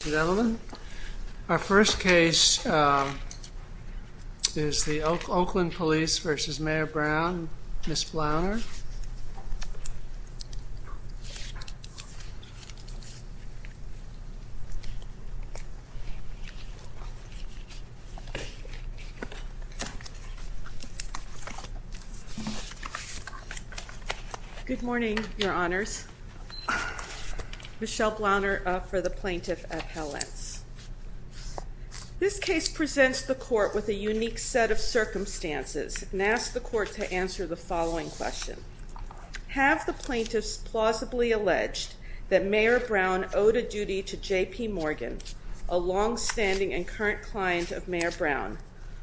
Ladies and gentlemen, our first case is the Oakland Police v. Mayer Brown, Ms. Blauner. Good morning, your honors. Michelle Blauner for the Plaintiff Appellants. This case presents the court with a unique set of circumstances and asks the court to answer the following question. Have the plaintiffs plausibly alleged that Mayer Brown owed a duty to J.P. Morgan, a long-standing and current client of Mayer Brown,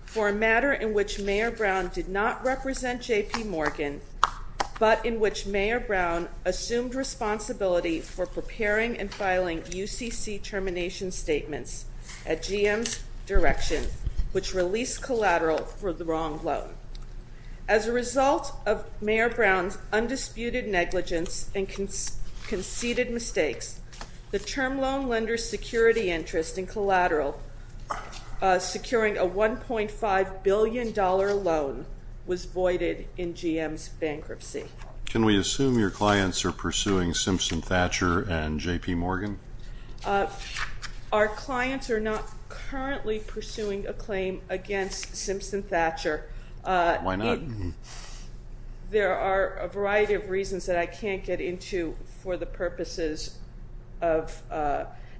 for a matter in which Mayer Brown did not represent J.P. Morgan, but in which Mayer Brown assumed responsibility for preparing and filing UCC termination statements at GM's direction, which released Collateral for the wrong loan. As a result of Mayer Brown's undisputed negligence and conceded mistakes, the term loan lender's security interest in Collateral securing a $1.5 billion loan Can we assume your clients are pursuing Simpson Thatcher and J.P. Morgan? Our clients are not currently pursuing a claim against Simpson Thatcher. Why not? There are a variety of reasons that I can't get into for the purposes of,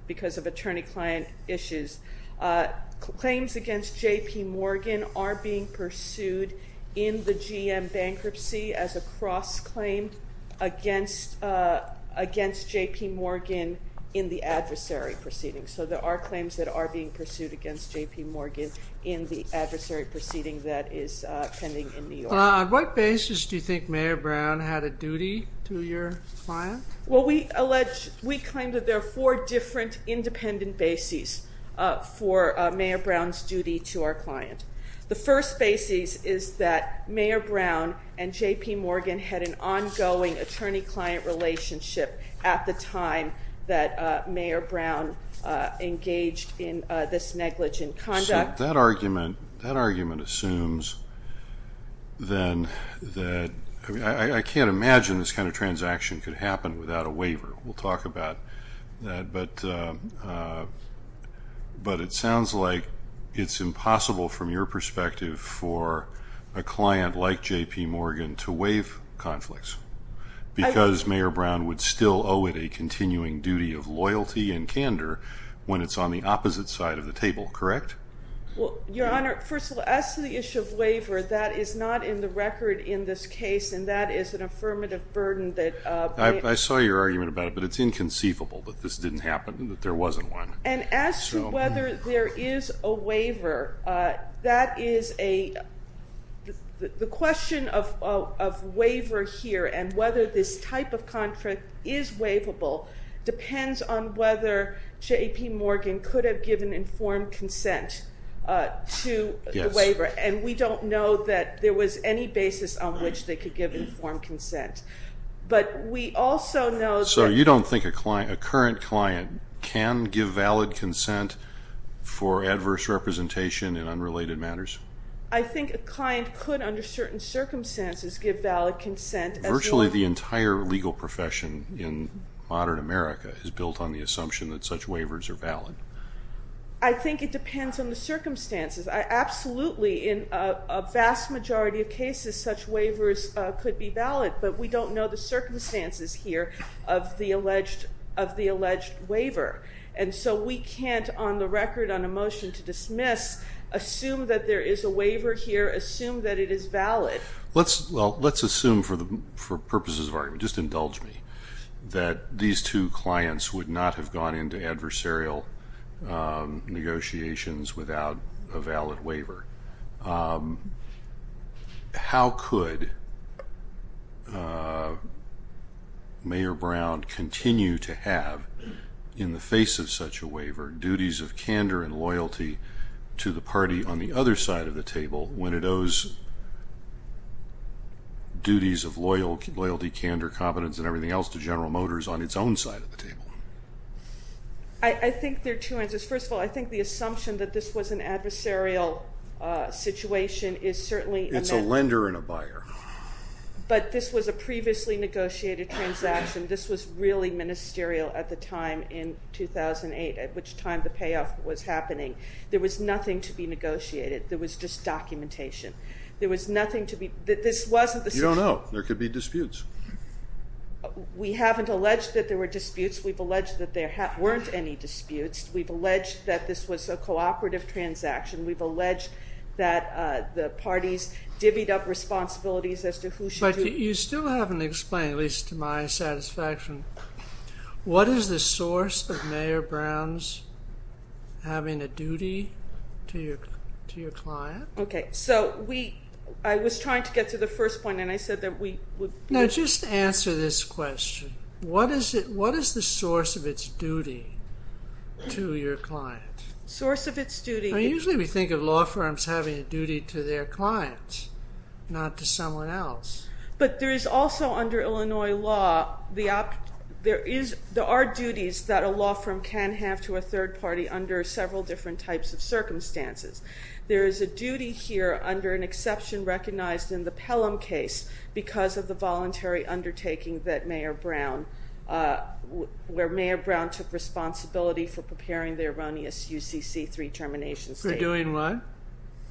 because of attorney-client issues. Claims J.P. Morgan are being pursued in the GM bankruptcy as a cross-claim against J.P. Morgan in the adversary proceeding. So there are claims that are being pursued against J.P. Morgan in the adversary proceeding that is pending in New York. On what basis do you think Mayer Brown had a duty to your client? Well, we allege, we claim that there are four different independent basis for Mayer Brown's duty to our client. The first basis is that Mayer Brown and J.P. Morgan had an ongoing attorney-client relationship at the time that Mayer Brown engaged in this negligent conduct. So that argument assumes then that, I mean I can't imagine this kind of transaction could happen without a waiver. We'll talk about that. But it sounds like it's impossible from your perspective for a client like J.P. Morgan to waive conflicts because Mayer Brown would still owe it a continuing duty of loyalty and candor when it's on the opposite side of the table, correct? Well, Your Honor, first of all, as to the issue of waiver, that is not in the record in this case and that is an affirmative burden that I saw your argument about it, but it's inconceivable that this didn't happen, that there wasn't one. And as to whether there is a waiver, that is a, the question of waiver here and whether this type of contract is waivable depends on whether J.P. Morgan could have given informed consent to the waiver. And we don't know that there was any basis on which they could give informed consent. But we also know that... So you don't think a client, a current client can give valid consent for adverse representation in unrelated matters? I think a client could under certain circumstances give valid consent... Virtually the entire legal profession in modern America is built on the assumption that such waivers are valid. I think it depends on the circumstances. Absolutely, in a vast majority of cases such waivers could be valid, but we don't know the circumstances here of the alleged waiver. And so we can't, on the record, on a motion to dismiss, assume that there is a waiver here, assume that it is that these two clients would not have gone into adversarial negotiations without a valid waiver. How could Mayor Brown continue to have, in the face of such a waiver, duties of candor and loyalty to the party on the other side of the table when it owes duties of loyalty, candor, competence and everything else to General Motors on its own side of the table? I think there are two answers. First of all, I think the assumption that this was an adversarial situation is certainly... It's a lender and a buyer. But this was a previously negotiated transaction. This was really ministerial at the time in 2008, at which time the payoff was happening. There was nothing to be negotiated. There was just documentation. There was nothing to be... You don't know. There could be disputes. We haven't alleged that there were disputes. We've alleged that there weren't any disputes. We've alleged that this was a cooperative transaction. We've alleged that the parties divvied up responsibilities as to who should... But you still haven't explained, at least to my satisfaction, what is the source of Mayor Brown's having a duty to your client? Okay. I was trying to get to the first point and I said that we would... Now, just answer this question. What is the source of its duty to your client? Source of its duty... Usually we think of law firms having a duty to their clients, not to someone else. But there is also, under Illinois law, there are duties that a law firm can have to a third party under several different types of circumstances. There is a duty here, under an exception recognized in the Pelham case, because of the voluntary undertaking that Mayor Brown... Where Mayor Brown took responsibility for preparing the erroneous UCC3 terminations. For doing what?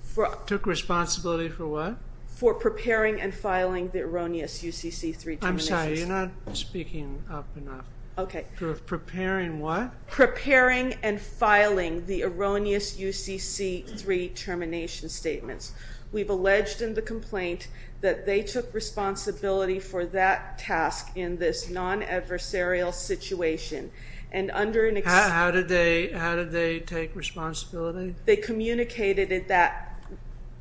For... Took responsibility for what? For preparing and filing the erroneous UCC3 terminations. I'm the erroneous UCC3 termination statements. We've alleged in the complaint that they took responsibility for that task in this non-adversarial situation. And under an... How did they take responsibility? They communicated that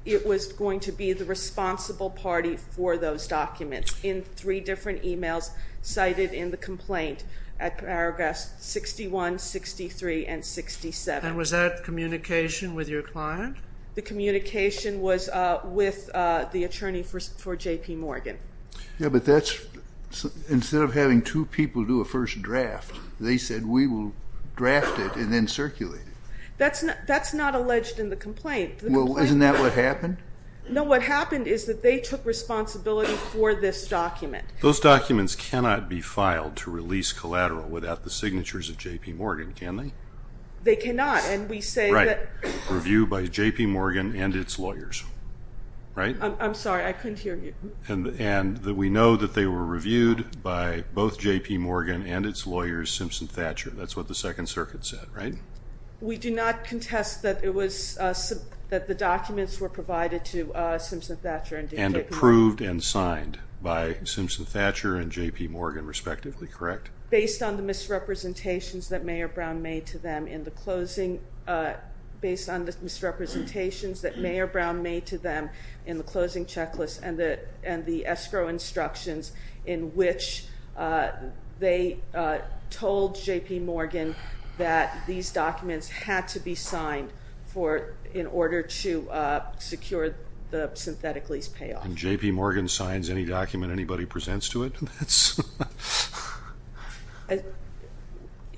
it was going to be the responsible party for those documents in three different emails cited in the complaint at paragraphs 61, 63, and 67. And was that communication with your client? The communication was with the attorney for J.P. Morgan. Yeah, but that's... Instead of having two people do a first draft, they said we will draft it and then circulate it. That's not alleged in the complaint. Well, isn't that what happened? No, what happened is that they took responsibility for this document. Those documents cannot be filed to release collateral without the signatures of J.P. Morgan, can they? They cannot, and we say that... Right. Review by J.P. Morgan and its lawyers, right? I'm sorry, I couldn't hear you. And that we know that they were reviewed by both J.P. Morgan and its lawyers, Simpson Thatcher. That's what the Second Circuit said, right? We do not contest that it was... That the documents were provided to Simpson Thatcher and J.P. Morgan. And approved and signed by Simpson Thatcher and J.P. Morgan respectively, correct? Based on the misrepresentations that Mayor Brown made to them in the closing, based on the misrepresentations that Mayor Brown made to them in the closing checklist and the escrow instructions in which they told J.P. Morgan that these documents had to be signed for in order to secure the synthetic lease payoff. When J.P. Morgan signs any document, anybody presents to it? It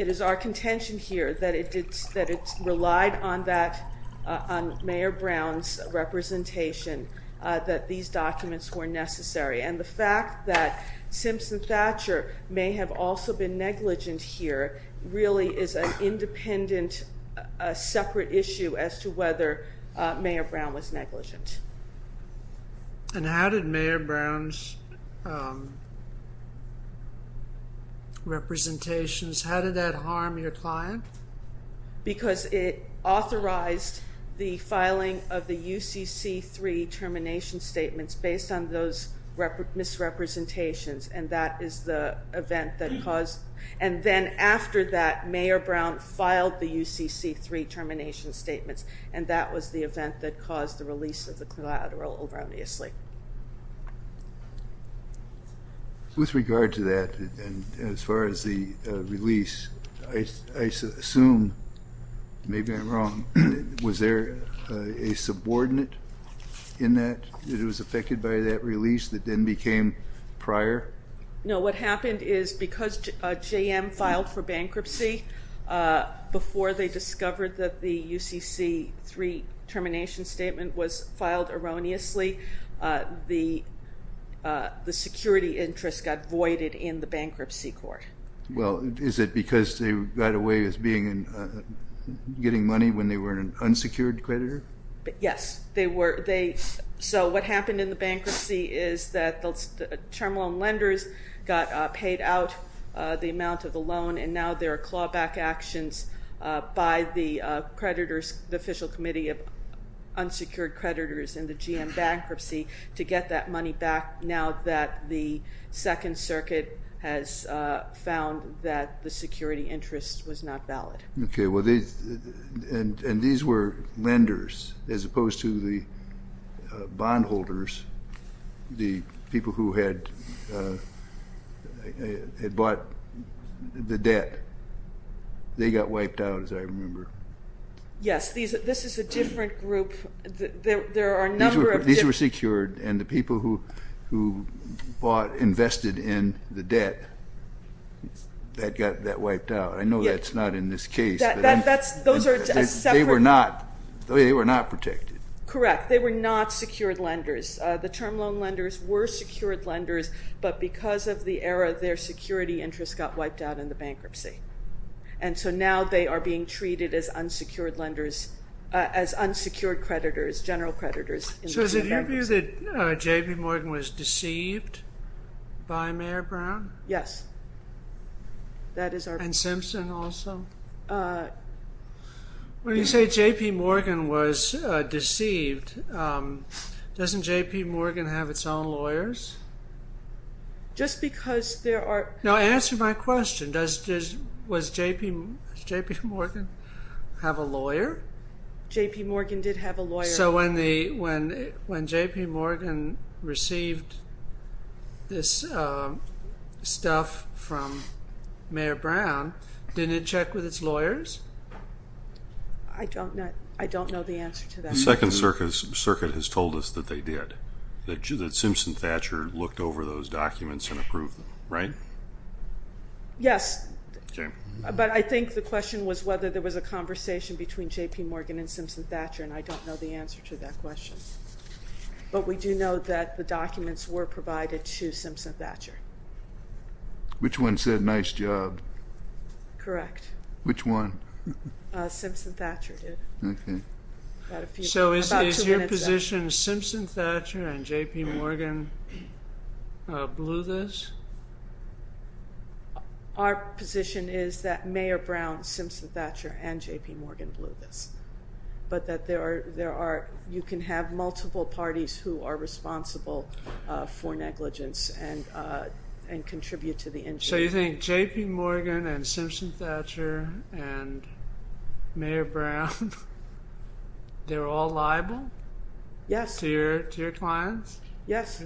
is our contention here that it did, that it relied on that, on Mayor Brown's representation, that these documents were necessary. And the fact that Simpson Thatcher may have also been negligent. And how did Mayor Brown's representations, how did that harm your client? Because it authorized the filing of the UCC-3 termination statements based on those misrepresentations. And that is the event that caused... And then after that, Mayor Brown filed the UCC-3 termination statements. And that was the event that caused the release of the collateral erroneously. With regard to that, and as far as the release, I assume, maybe I'm wrong, was there a subordinate in that that was affected by that release that then became prior? No, what happened is because J.M. filed for bankruptcy before they discovered that the UCC-3 termination statement was filed erroneously, the security interest got voided in the bankruptcy court. Well, is it because they got away with getting money when they were an unsecured creditor? Yes, they were. So what happened in the bankruptcy is that the term loan lenders got paid out the amount of the loan, and now there are clawback actions by the creditors, the official committee of unsecured creditors in the J.M. bankruptcy to get that money back now that the Second Circuit has found that the security interest was not valid. Okay, and these were lenders as opposed to the bondholders, the people who had bought the debt. They got wiped out, as I remember. Yes, this is a different group. There are a number of... These were secured, and the people who bought, invested in the debt, that got that wiped out. I know that's not in this case, but they were not protected. Correct. They were not secured lenders. The term loan lenders were secured lenders, but because of the error, their security interest got wiped out in the bankruptcy, and so now they are being treated as unsecured creditors, general creditors. So is it your view that J.P. Morgan was deceived by Mayor Brown? Yes, that is our... And Simpson also? When you say J.P. Morgan was deceived, doesn't J.P. Morgan have its own lawyers? Just because there are... No, answer my question. Does J.P. Morgan have a lawyer? J.P. Morgan did have a lawyer. So when J.P. Morgan received this stuff from Mayor Brown, didn't it check with its lawyers? I don't know the answer to that. The Second Circuit has told us that they did, that Simpson Thatcher looked over those documents and approved them, right? Yes, but I think the question was whether there was a conversation between J.P. Morgan and Simpson Thatcher, and I don't know the answer to that question. But we do know that the documents were provided to Simpson Thatcher. Which one said, nice job? Correct. Which one? Simpson Thatcher did. So is your position Simpson Thatcher and J.P. Morgan blew this? Our position is that Mayor Brown, Simpson Thatcher, and J.P. Morgan blew this. But that there are... You can have multiple parties who are responsible for negligence and contribute to the injury. So you think J.P. Morgan and Simpson Thatcher and Mayor Brown, they're all liable? Yes. To your clients? Yes.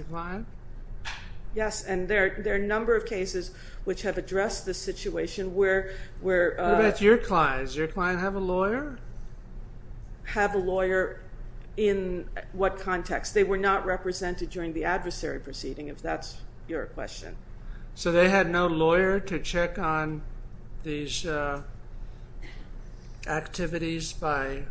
Yes, and there are a number of cases which have addressed this situation where... What about your clients? Does your client have a lawyer? Have a lawyer in what context? They were not represented during the adversary proceeding, if that's your question. So they had no lawyer to check on these activities by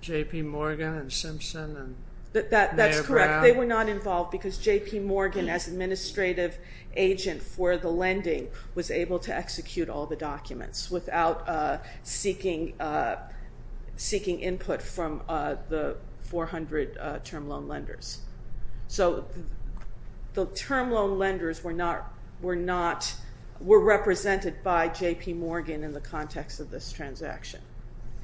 J.P. Morgan and Simpson and Mayor Brown? That's correct. They were not involved because J.P. Morgan, as administrative agent for the lending, was able to execute all the documents without seeking input from the 400 term loan lenders. So the term loan lenders were not... were represented by J.P. Morgan in the context of this transaction.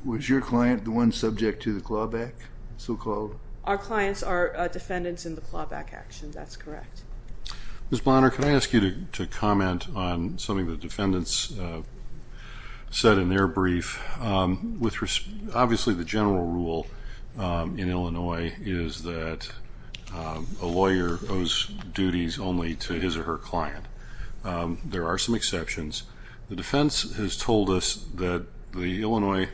Was your client the one subject to the clawback, so-called? Our clients are defendants in the clawback action. That's correct. Ms. Bonner, can I ask you to comment on something the defendants said in their brief? Obviously, the general rule in Illinois is that a lawyer owes duties only to his or her client. There are some exceptions. The defense has told us that the Illinois...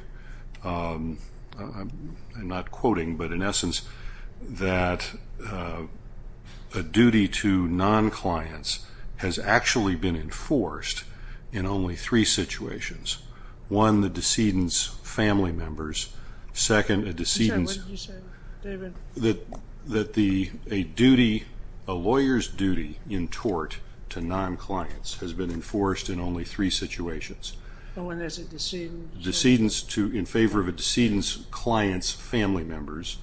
non-clients has actually been enforced in only three situations. One, the decedent's family members. Second, a decedent's... I'm sorry, what did you say, David? That a lawyer's duty in tort to non-clients has been enforced in only three situations. But when there's a decedent... in favor of a decedent's client's family members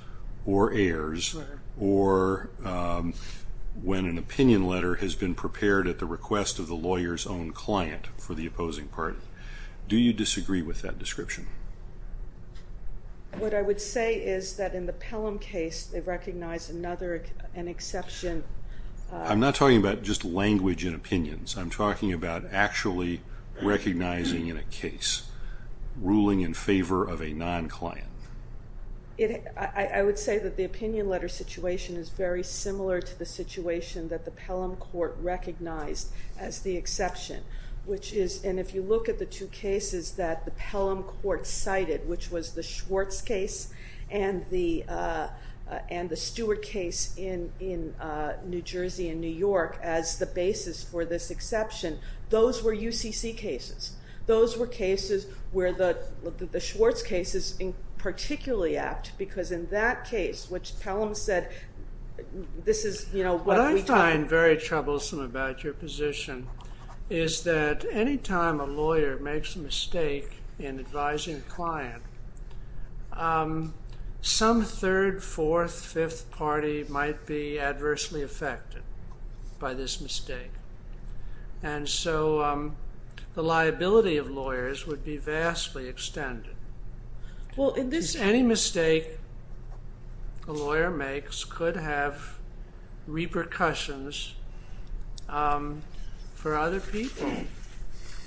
or heirs, or when an opinion letter has been prepared at the request of the lawyer's own client for the opposing party, do you disagree with that description? What I would say is that in the Pelham case, they recognized another, an exception... I'm not talking about just language and opinions. I'm talking about actually recognizing in a case ruling in favor of a non-client. I would say that the opinion letter situation is very similar to the situation that the Pelham Court recognized as the exception, which is... And if you look at the two cases that the Pelham Court cited, which was the Schwartz case and the Stewart case in New Jersey and New York as the basis for this exception, those were UCC cases. Those were cases where the Schwartz case is particularly apt because in that case, which Pelham said, this is, you know... What I find very troublesome about your position is that anytime a lawyer makes a mistake in advising a client, some third, fourth, fifth party might be adversely affected by this mistake. And so the liability of lawyers would be vastly extended. Well, in this... Any mistake a lawyer makes could have repercussions for other people,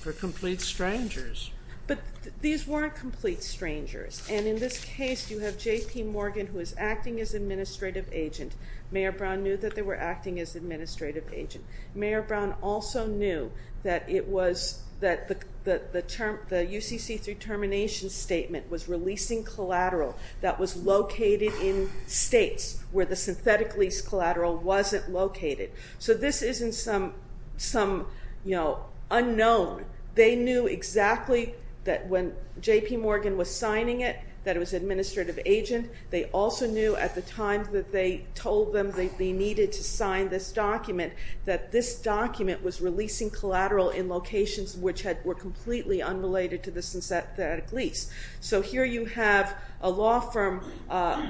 for complete strangers. But these weren't complete strangers. And in this case, you have J.P. Morgan, who is acting as administrative agent. Mayor Brown knew that they were acting as administrative agent. Mayor Brown also knew that the UCC through termination statement was releasing collateral that was located in states where the synthetic lease collateral wasn't located. So this isn't some unknown. They knew exactly that when J.P. Morgan was signing it, that it was administrative agent. They also knew at the time that they told them that they needed to sign this document, that this document was releasing collateral in locations which were completely unrelated to the synthetic lease. So here you have a law firm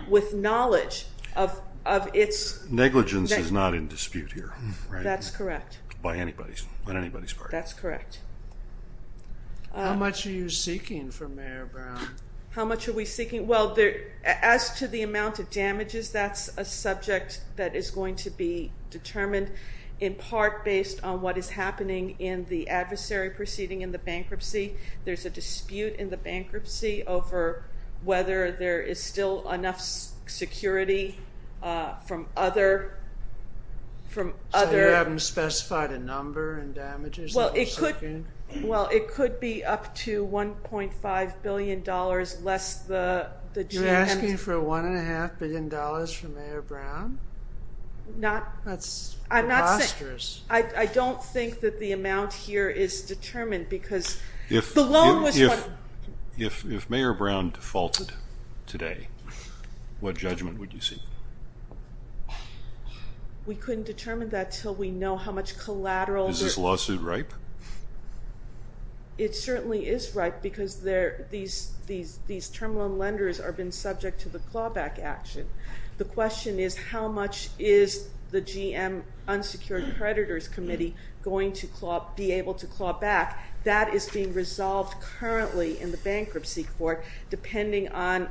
with knowledge of its... Negligence is not in dispute here, right? That's correct. By anybody's, on anybody's part. That's correct. How much are you seeking from Mayor Brown? How much are we seeking? In part based on what is happening in the adversary proceeding in the bankruptcy. There's a dispute in the bankruptcy over whether there is still enough security from other... So you haven't specified a number and damages? Well, it could be up to $1.5 billion less the... You're asking for $1.5 billion from Mayor Brown? Not... I'm not... I don't think that the amount here is determined because the loan was... If Mayor Brown defaulted today, what judgment would you seek? We couldn't determine that until we know how much collateral... Is this lawsuit ripe? It certainly is ripe because these terminal lenders have been subject to the clawback action. The question is how much is the GM unsecured creditors committee going to claw... Be able to claw back. That is being resolved currently in the bankruptcy court depending on...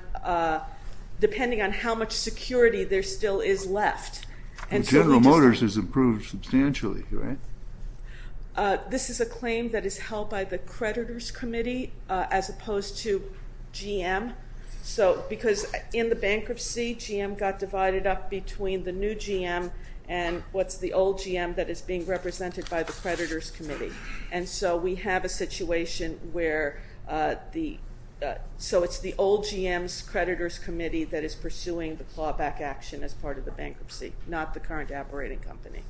Depending on how much security there still is left and... General Motors has improved substantially, right? This is a claim that is held by the creditors committee as opposed to GM. So because in the bankruptcy, GM got divided up between the new GM and what's the old GM that is being represented by the creditors committee. And so we have a situation where the... So it's the old GM's creditors committee that is pursuing the clawback action as part of the bankruptcy, not the current operating company.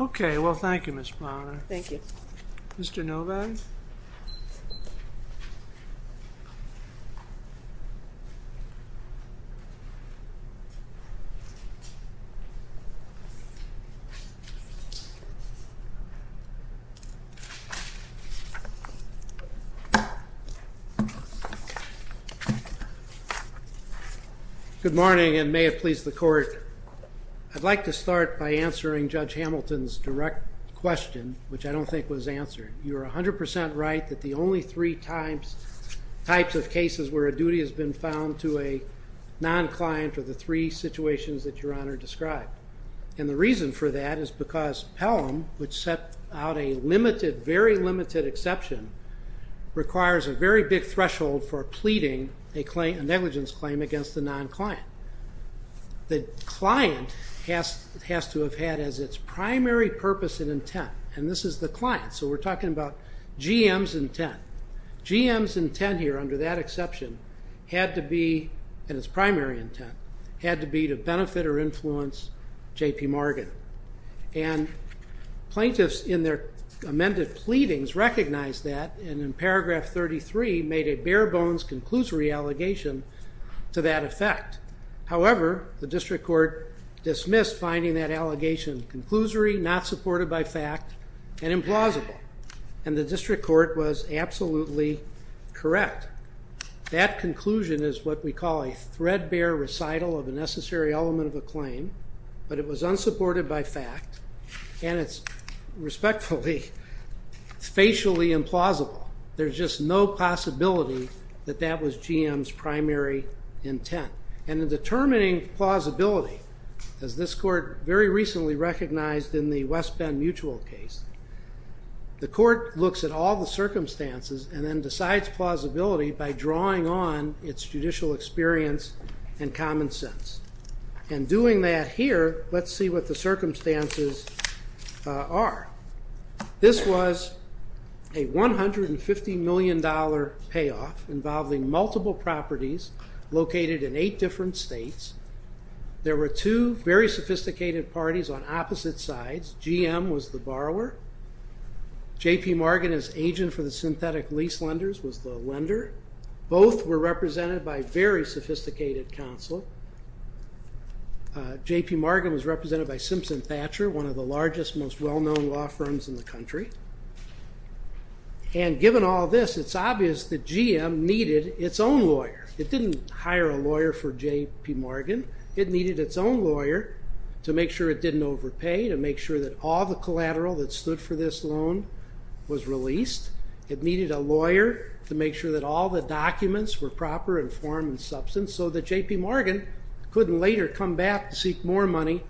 Okay. Well, thank you, Ms. Plowman. Thank you. Mr. Novak? Okay. Good morning and may it please the court. I'd like to start by answering Judge Hamilton's direct question, which I don't think was answered. You're 100% right that the only three times... Types of cases where a duty has been found to a non-client are the three situations that your honor described. And the reason for that is because Pelham, which set out a limited, very limited exception, requires a very big threshold for pleading a negligence claim against the non-client. The client has to have had as its primary purpose and intent. And this is the client. So we're talking about GM's intent. GM's intent here under that exception had to be, and its primary intent, had to be to benefit or influence J.P. Morgan. And plaintiffs in their amended pleadings recognized that and in paragraph 33 made a bare bones conclusory allegation to that effect. However, the district court dismissed finding that allegation conclusory, not supported by fact, and implausible. And the district court was absolutely correct. That conclusion is what we call a threadbare recital of a necessary element of a claim. But it was unsupported by fact. And it's respectfully, facially implausible. There's just no possibility that that was GM's primary intent. And in determining plausibility, as this court very recently recognized in the West Bend Mutual case, the court looks at all the circumstances and then decides plausibility by drawing on its judicial experience and common sense. And doing that here, let's see what the circumstances are. This was a $150 million payoff involving multiple properties located in eight different states. There were two very sophisticated parties on opposite sides. GM was the borrower. J.P. Morgan, as agent for the synthetic lease lenders, was the lender. Both were represented by very sophisticated counsel. J.P. Morgan was represented by Simpson Thatcher, one of the largest, most well-known law firms in the country. And given all this, it's obvious that GM needed its own lawyer. It didn't hire a lawyer for J.P. Morgan. It needed its own lawyer to make sure it didn't overpay, to make sure that all the collateral that stood for this loan was released. It needed a lawyer to make sure that all the documents were proper, informed, and substance so that J.P. Morgan couldn't later come back to seek more money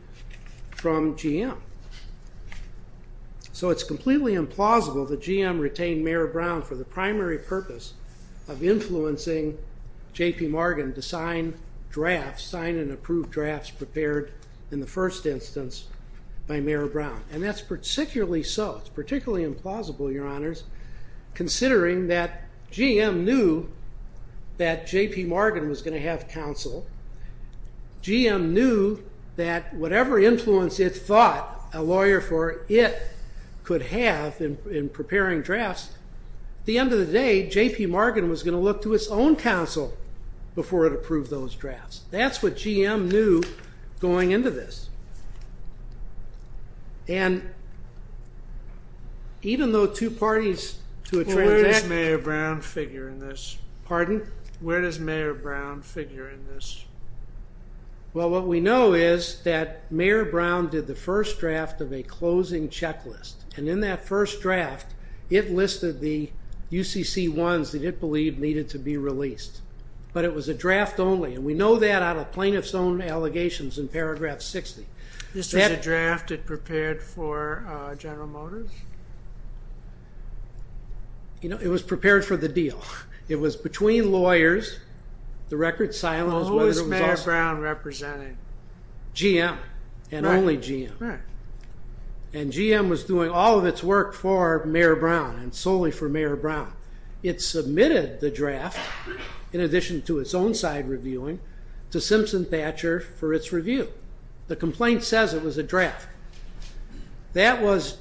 from GM. So it's completely implausible that GM retained Mayor Brown for the primary purpose of influencing J.P. Morgan to sign drafts, sign and approve drafts prepared in the first instance by Mayor Brown. And that's particularly so. It's particularly implausible, Your Honors, considering that GM knew that J.P. Morgan was going to have counsel. GM knew that whatever influence it thought a lawyer for it could have in preparing drafts, at the end of the day, J.P. Morgan was going to look to its own counsel before it approved those drafts. That's what GM knew going into this. And even though two parties to a transaction— Well, where does Mayor Brown figure in this? Pardon? Where does Mayor Brown figure in this? Well, what we know is that Mayor Brown did the first draft of a closing checklist. And in that first draft, it listed the UCC-1s that it believed needed to be released. But it was a draft only. And we know that out of plaintiff's own allegations in paragraph 60. This was a draft it prepared for General Motors? You know, it was prepared for the deal. It was between lawyers. The record's silent. Well, who is Mayor Brown representing? GM and only GM. And GM was doing all of its work for Mayor Brown and solely for Mayor Brown. It submitted the draft, in addition to its own side reviewing, to Simpson Thatcher for its review. The complaint says it was a draft. That was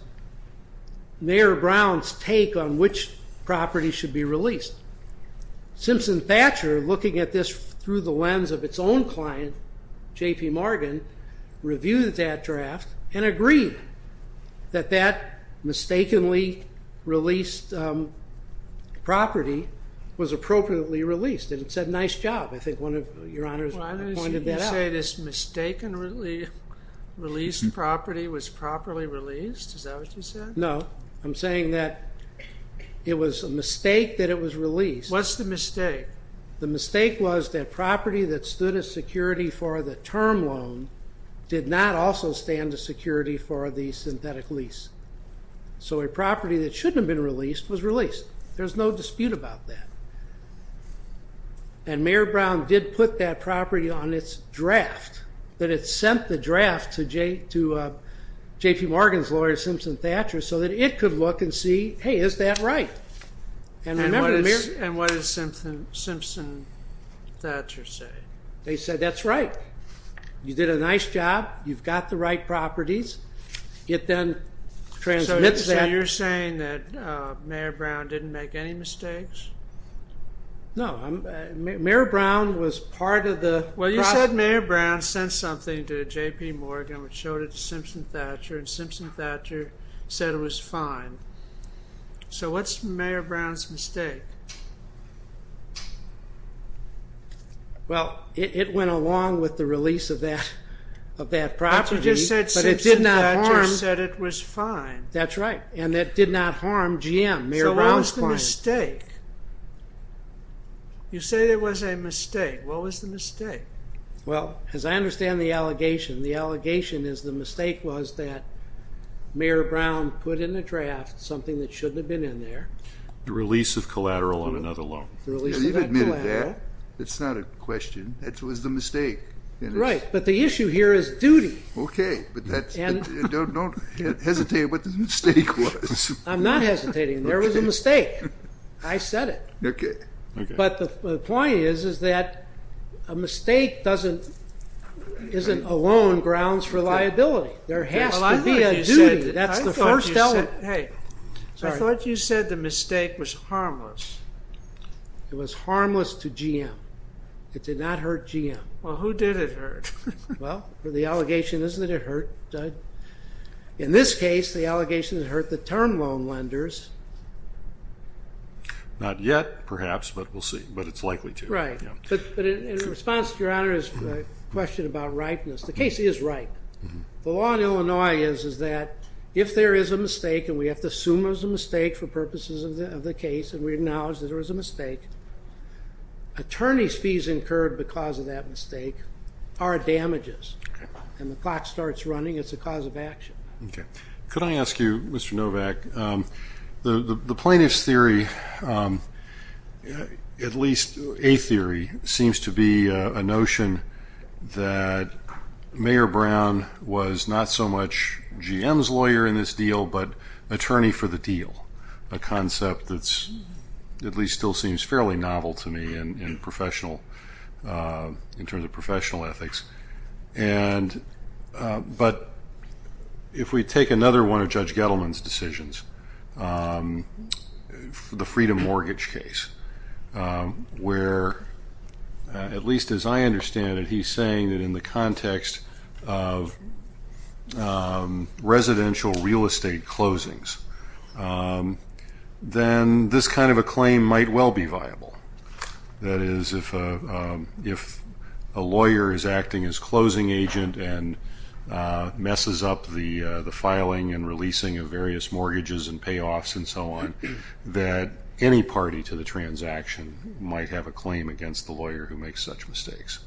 Mayor Brown's take on which property should be released. Simpson Thatcher, looking at this through the lens of its own client, J.P. Morgan, reviewed that draft and agreed that that mistakenly released property was appropriately released. And it said, nice job. I think one of your honors pointed that out. You say this mistakenly released property was properly released? Is that what you said? No. I'm saying that it was a mistake that it was released. What's the mistake? The mistake was that property that stood as security for the term loan did not also stand as security for the synthetic lease. So a property that shouldn't have been released was released. There's no dispute about that. And Mayor Brown did put that property on its draft, that it sent the draft to J.P. Morgan's lawyer, Simpson Thatcher, so that it could look and see, hey, is that right? And what did Simpson Thatcher say? They said, that's right. You did a nice job. You've got the right properties. It then transmits that. So you're saying that Mayor Brown didn't make any mistakes? No. Mayor Brown was part of the process. Well, you said Mayor Brown sent something to J.P. Morgan, which showed it to Simpson Thatcher, and Simpson Thatcher said it was fine. So what's Mayor Brown's mistake? Well, it went along with the release of that property, but it did not harm... Simpson Thatcher said it was fine. That's right. And that did not harm GM, Mayor Brown's client. So what was the mistake? You say there was a mistake. What was the mistake? Well, as I understand the allegation, the allegation is the mistake was that something that shouldn't have been in there. The release of collateral on another loan. The release of collateral. You've admitted that. It's not a question. That was the mistake. Right. But the issue here is duty. Okay. But don't hesitate what the mistake was. I'm not hesitating. There was a mistake. I said it. But the point is that a mistake isn't a loan grounds for liability. There has to be a duty. That's the first element. I thought you said the mistake was harmless. It was harmless to GM. It did not hurt GM. Well, who did it hurt? Well, for the allegation, isn't it hurt? In this case, the allegation hurt the term loan lenders. Not yet, perhaps, but we'll see. But it's likely to. Right. But in response to Your Honor's question about rightness, the case is right. The law in Illinois is that if there is a mistake, and we have to assume there's a mistake for purposes of the case, and we acknowledge that there was a mistake, attorney's fees incurred because of that mistake are damages. And the clock starts running. It's a cause of action. Okay. Could I ask you, Mr. Novak, the plaintiff's theory, at least a theory, seems to be a notion that Mayor Brown was not so much GM's lawyer in this deal, but attorney for the deal, a concept that at least still seems fairly novel to me in terms of professional ethics. But if we take another one of Judge Gettleman's decisions, the freedom mortgage case, where at least as I understand it, he's saying that in the context of residential real estate closings, then this kind of a claim might well be viable. That is, if a lawyer is acting as closing agent and messes up the filing and releasing of various mortgages and payoffs and so on, that any party to the transaction might have a claim against the lawyer who makes such mistakes.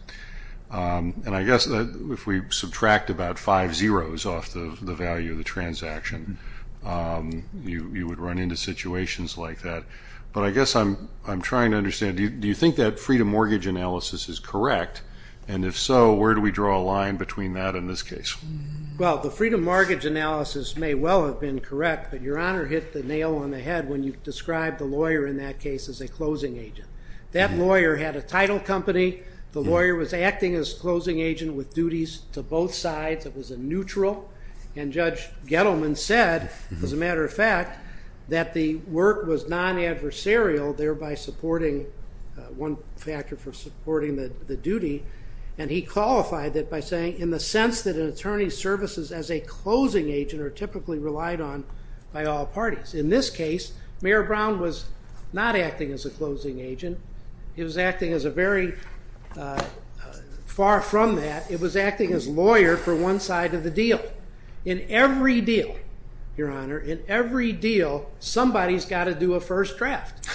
And I guess if we subtract about five zeros off the value of the transaction, you would run into situations like that. But I guess I'm trying to understand, do you think that freedom mortgage analysis is correct? And if so, where do we draw a line between that and this case? Well, the freedom mortgage analysis may well have been correct, but Your Honor hit the nail on the head when you described the lawyer in that case as a closing agent. That lawyer had a title company. The lawyer was acting as closing agent with duties to both sides. It was a neutral. And Judge Gettleman said, as a matter of fact, that the work was non-adversarial, thereby supporting one factor for supporting the duty. And he qualified that by saying, in the sense that an attorney's services as a closing agent are typically relied on by all parties. In this case, Mayor Brown was not acting as a closing agent. He was acting as a very far from that. It was acting as lawyer for one side of the deal. In every deal, Your Honor, in every deal, somebody's got to do a first draft.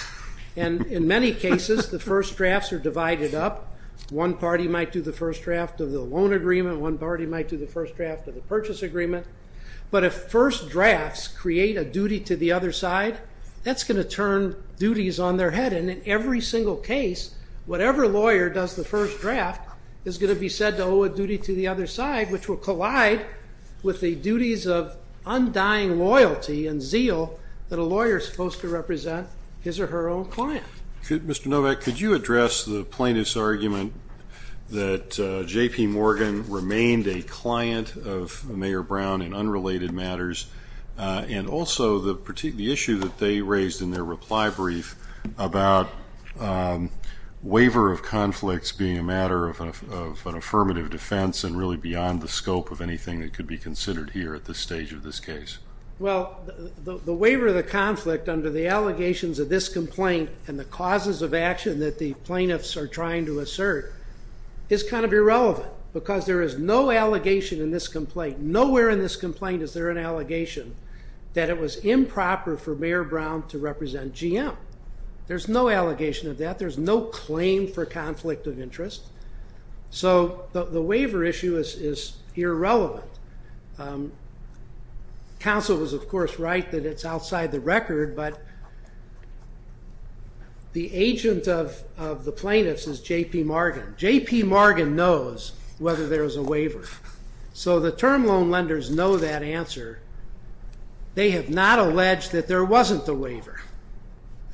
And in many cases, the first drafts are divided up. One party might do the first draft of the loan agreement. One party might do the first draft of the purchase agreement. But if first drafts create a duty to the other side, that's going to turn duties on their head. And in every single case, whatever lawyer does the first draft is going to be said to owe a duty to the other side, which will collide with the duties of undying loyalty and zeal that a lawyer is supposed to represent his or her own client. Mr. Novak, could you address the plaintiff's argument that J.P. Brown, in unrelated matters, and also the issue that they raised in their reply brief about waiver of conflicts being a matter of an affirmative defense and really beyond the scope of anything that could be considered here at this stage of this case? Well, the waiver of the conflict under the allegations of this complaint and the causes of action that the plaintiffs are trying to assert is kind of irrelevant because there is no allegation in this complaint. Nowhere in this complaint is there an allegation that it was improper for Mayor Brown to represent GM. There's no allegation of that. There's no claim for conflict of interest. So the waiver issue is irrelevant. Counsel was, of course, right that it's outside the record. But the agent of the plaintiffs is J.P. Morgan knows whether there is a waiver. So the term loan lenders know that answer. They have not alleged that there wasn't a waiver.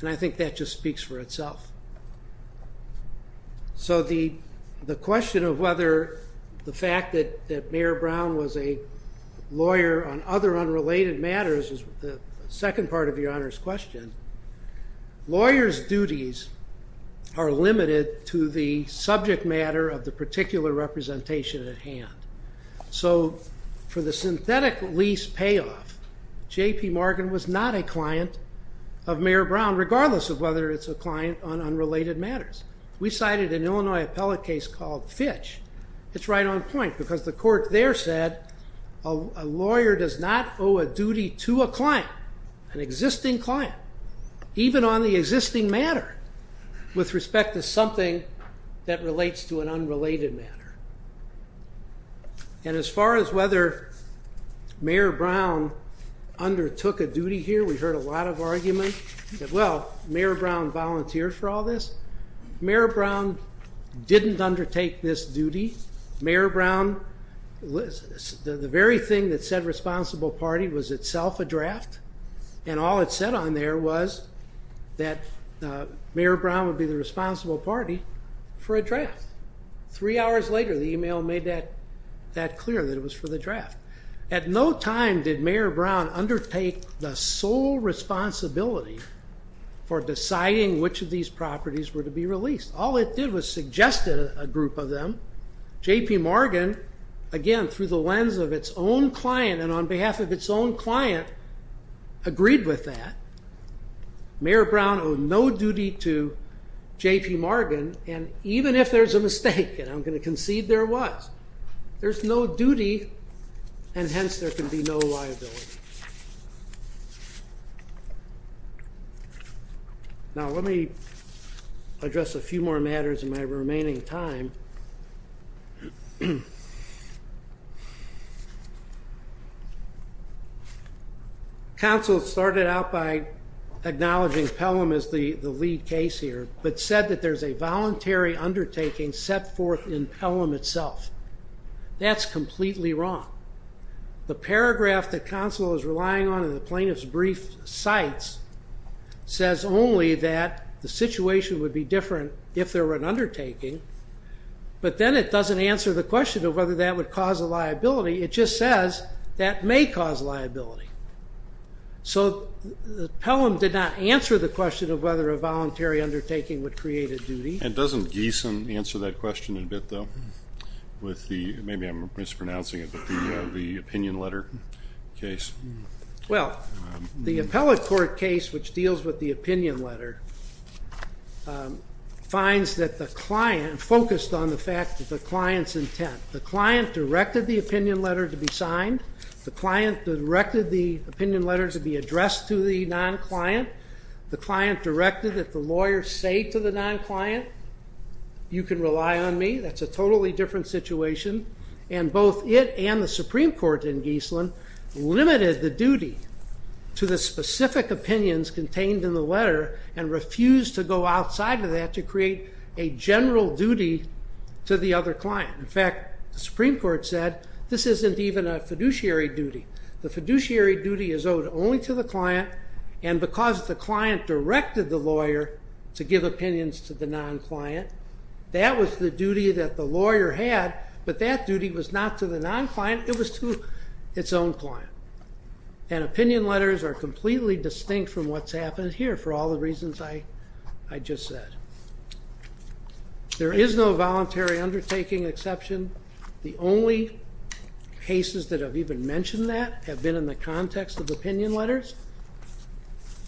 And I think that just speaks for itself. So the question of whether the fact that Mayor Brown was a lawyer on other unrelated matters is the second part of your Honor's question. Lawyers' duties are limited to the subject matter of the particular representation at hand. So for the synthetic lease payoff, J.P. Morgan was not a client of Mayor Brown, regardless of whether it's a client on unrelated matters. We cited an Illinois appellate case called Fitch. It's right on point because the court there said a lawyer does not owe a duty to a client, an existing client. Even on the existing matter, with respect to something that relates to an unrelated matter. And as far as whether Mayor Brown undertook a duty here, we heard a lot of argument that, well, Mayor Brown volunteered for all this. Mayor Brown didn't undertake this duty. Mayor Brown, the very thing that said responsible party was itself a draft. And all it said on there was that Mayor Brown would be the responsible party for a draft. Three hours later, the email made that clear that it was for the draft. At no time did Mayor Brown undertake the sole responsibility for deciding which of these properties were to be released. All it did was suggest a group of them. J.P. Morgan, again, through the lens of its own client and on behalf of its own client, agreed with that. Mayor Brown owed no duty to J.P. Morgan. And even if there's a mistake, and I'm going to concede there was, there's no duty, and hence there can be no liability. Now, let me address a few more matters in my remaining time. Council started out by acknowledging Pelham as the lead case here, but said that there's a voluntary undertaking set forth in Pelham itself. That's completely wrong. The paragraph that council is relying on in the plaintiff's brief cites says only that the situation would be different if there were an undertaking, but then it doesn't answer the question of whether that would cause a liability. It just says that may cause liability. So Pelham did not answer the question of whether a voluntary undertaking would create a duty. And doesn't Gieson answer that question in a bit, though, with the, maybe I'm mispronouncing it, but the opinion letter case? Well, the appellate court case, which deals with the opinion letter, finds that the client, focused on the fact that the client's intent, the client directed the opinion letter to be signed. The client directed the opinion letter to be addressed to the non-client. The client directed that the lawyer say to the non-client, you can rely on me. That's a totally different situation. And both it and the Supreme Court in Gieson limited the duty to the specific opinions contained in the letter and refused to go outside of that to create a general duty to the other client. In fact, the Supreme Court said, this isn't even a fiduciary duty. The fiduciary duty is owed only to the client. And because the client directed the lawyer to give opinions to the non-client, that was the duty that the lawyer had. But that duty was not to the non-client. It was to its own client. And opinion letters are completely distinct from what's happened here for all the reasons I just said. There is no voluntary undertaking exception. The only cases that have even mentioned that have been in the context of opinion letters.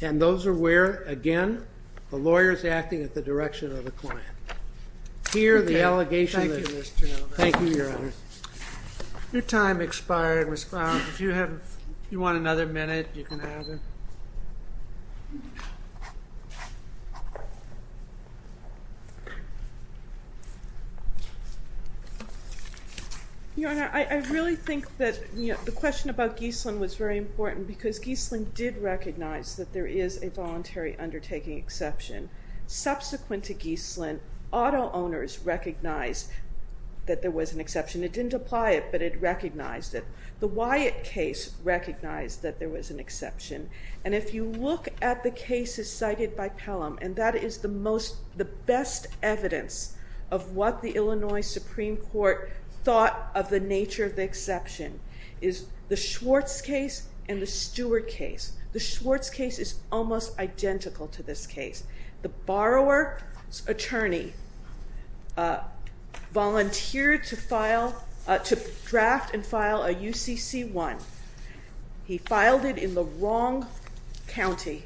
And those are where, again, the lawyer's acting at the direction of the client. Here, the allegation is. Thank you, Mr. Nelson. Thank you, Your Honor. Your time expired, Ms. Brown. If you want another minute, you can have it. Your Honor, I really think that the question about Gieslin was very important because Gieslin did recognize that there is a voluntary undertaking exception. Subsequent to Gieslin, auto owners recognized that there was an exception. It didn't apply it, but it recognized it. The Wyatt case recognized that there was an exception. And if you look at the cases cited by Pelham, and that is the most, the best evidence of what the Illinois Supreme Court thought of the nature of the exception is the Schwartz case and the Stewart case. The Schwartz case is almost identical to this case. The borrower's attorney volunteered to file, to draft and file a UCC-1. He filed it in the wrong county.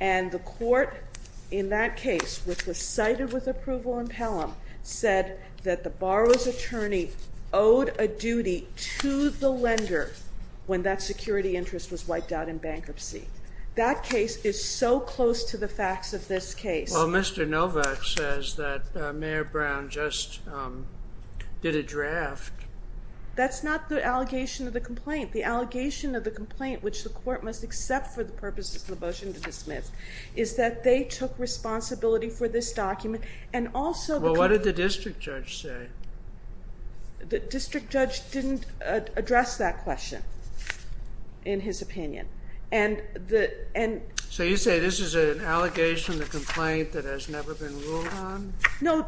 And the court in that case, which was cited with approval in Pelham, said that the borrower's attorney owed a duty to the lender when that security interest was wiped out in bankruptcy. That case is so close to the facts of this case. Well, Mr. Novak says that Mayor Brown just did a draft. That's not the allegation of the complaint. The allegation of the complaint, which the court must accept for the purposes of the motion to dismiss, is that they took responsibility for this document and also... Well, what did the district judge say? The district judge didn't address that question in his opinion. And the... So you say this is an allegation, a complaint that has never been ruled on? No,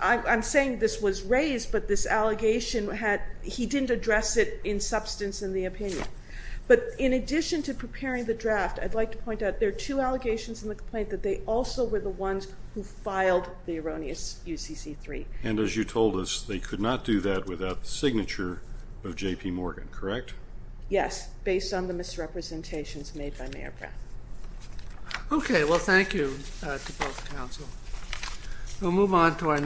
I'm saying this was raised, but this allegation had... He didn't address it in substance in the opinion. But in addition to preparing the draft, I'd like to point out there are two allegations in the complaint that they also were the ones who filed the erroneous UCC-3. And as you told us, they could not do that without the signature of J.P. Morgan, correct? Yes, based on the misrepresentations made by Mayor Brown. Okay, well, thank you to both counsel. We'll move on to our next...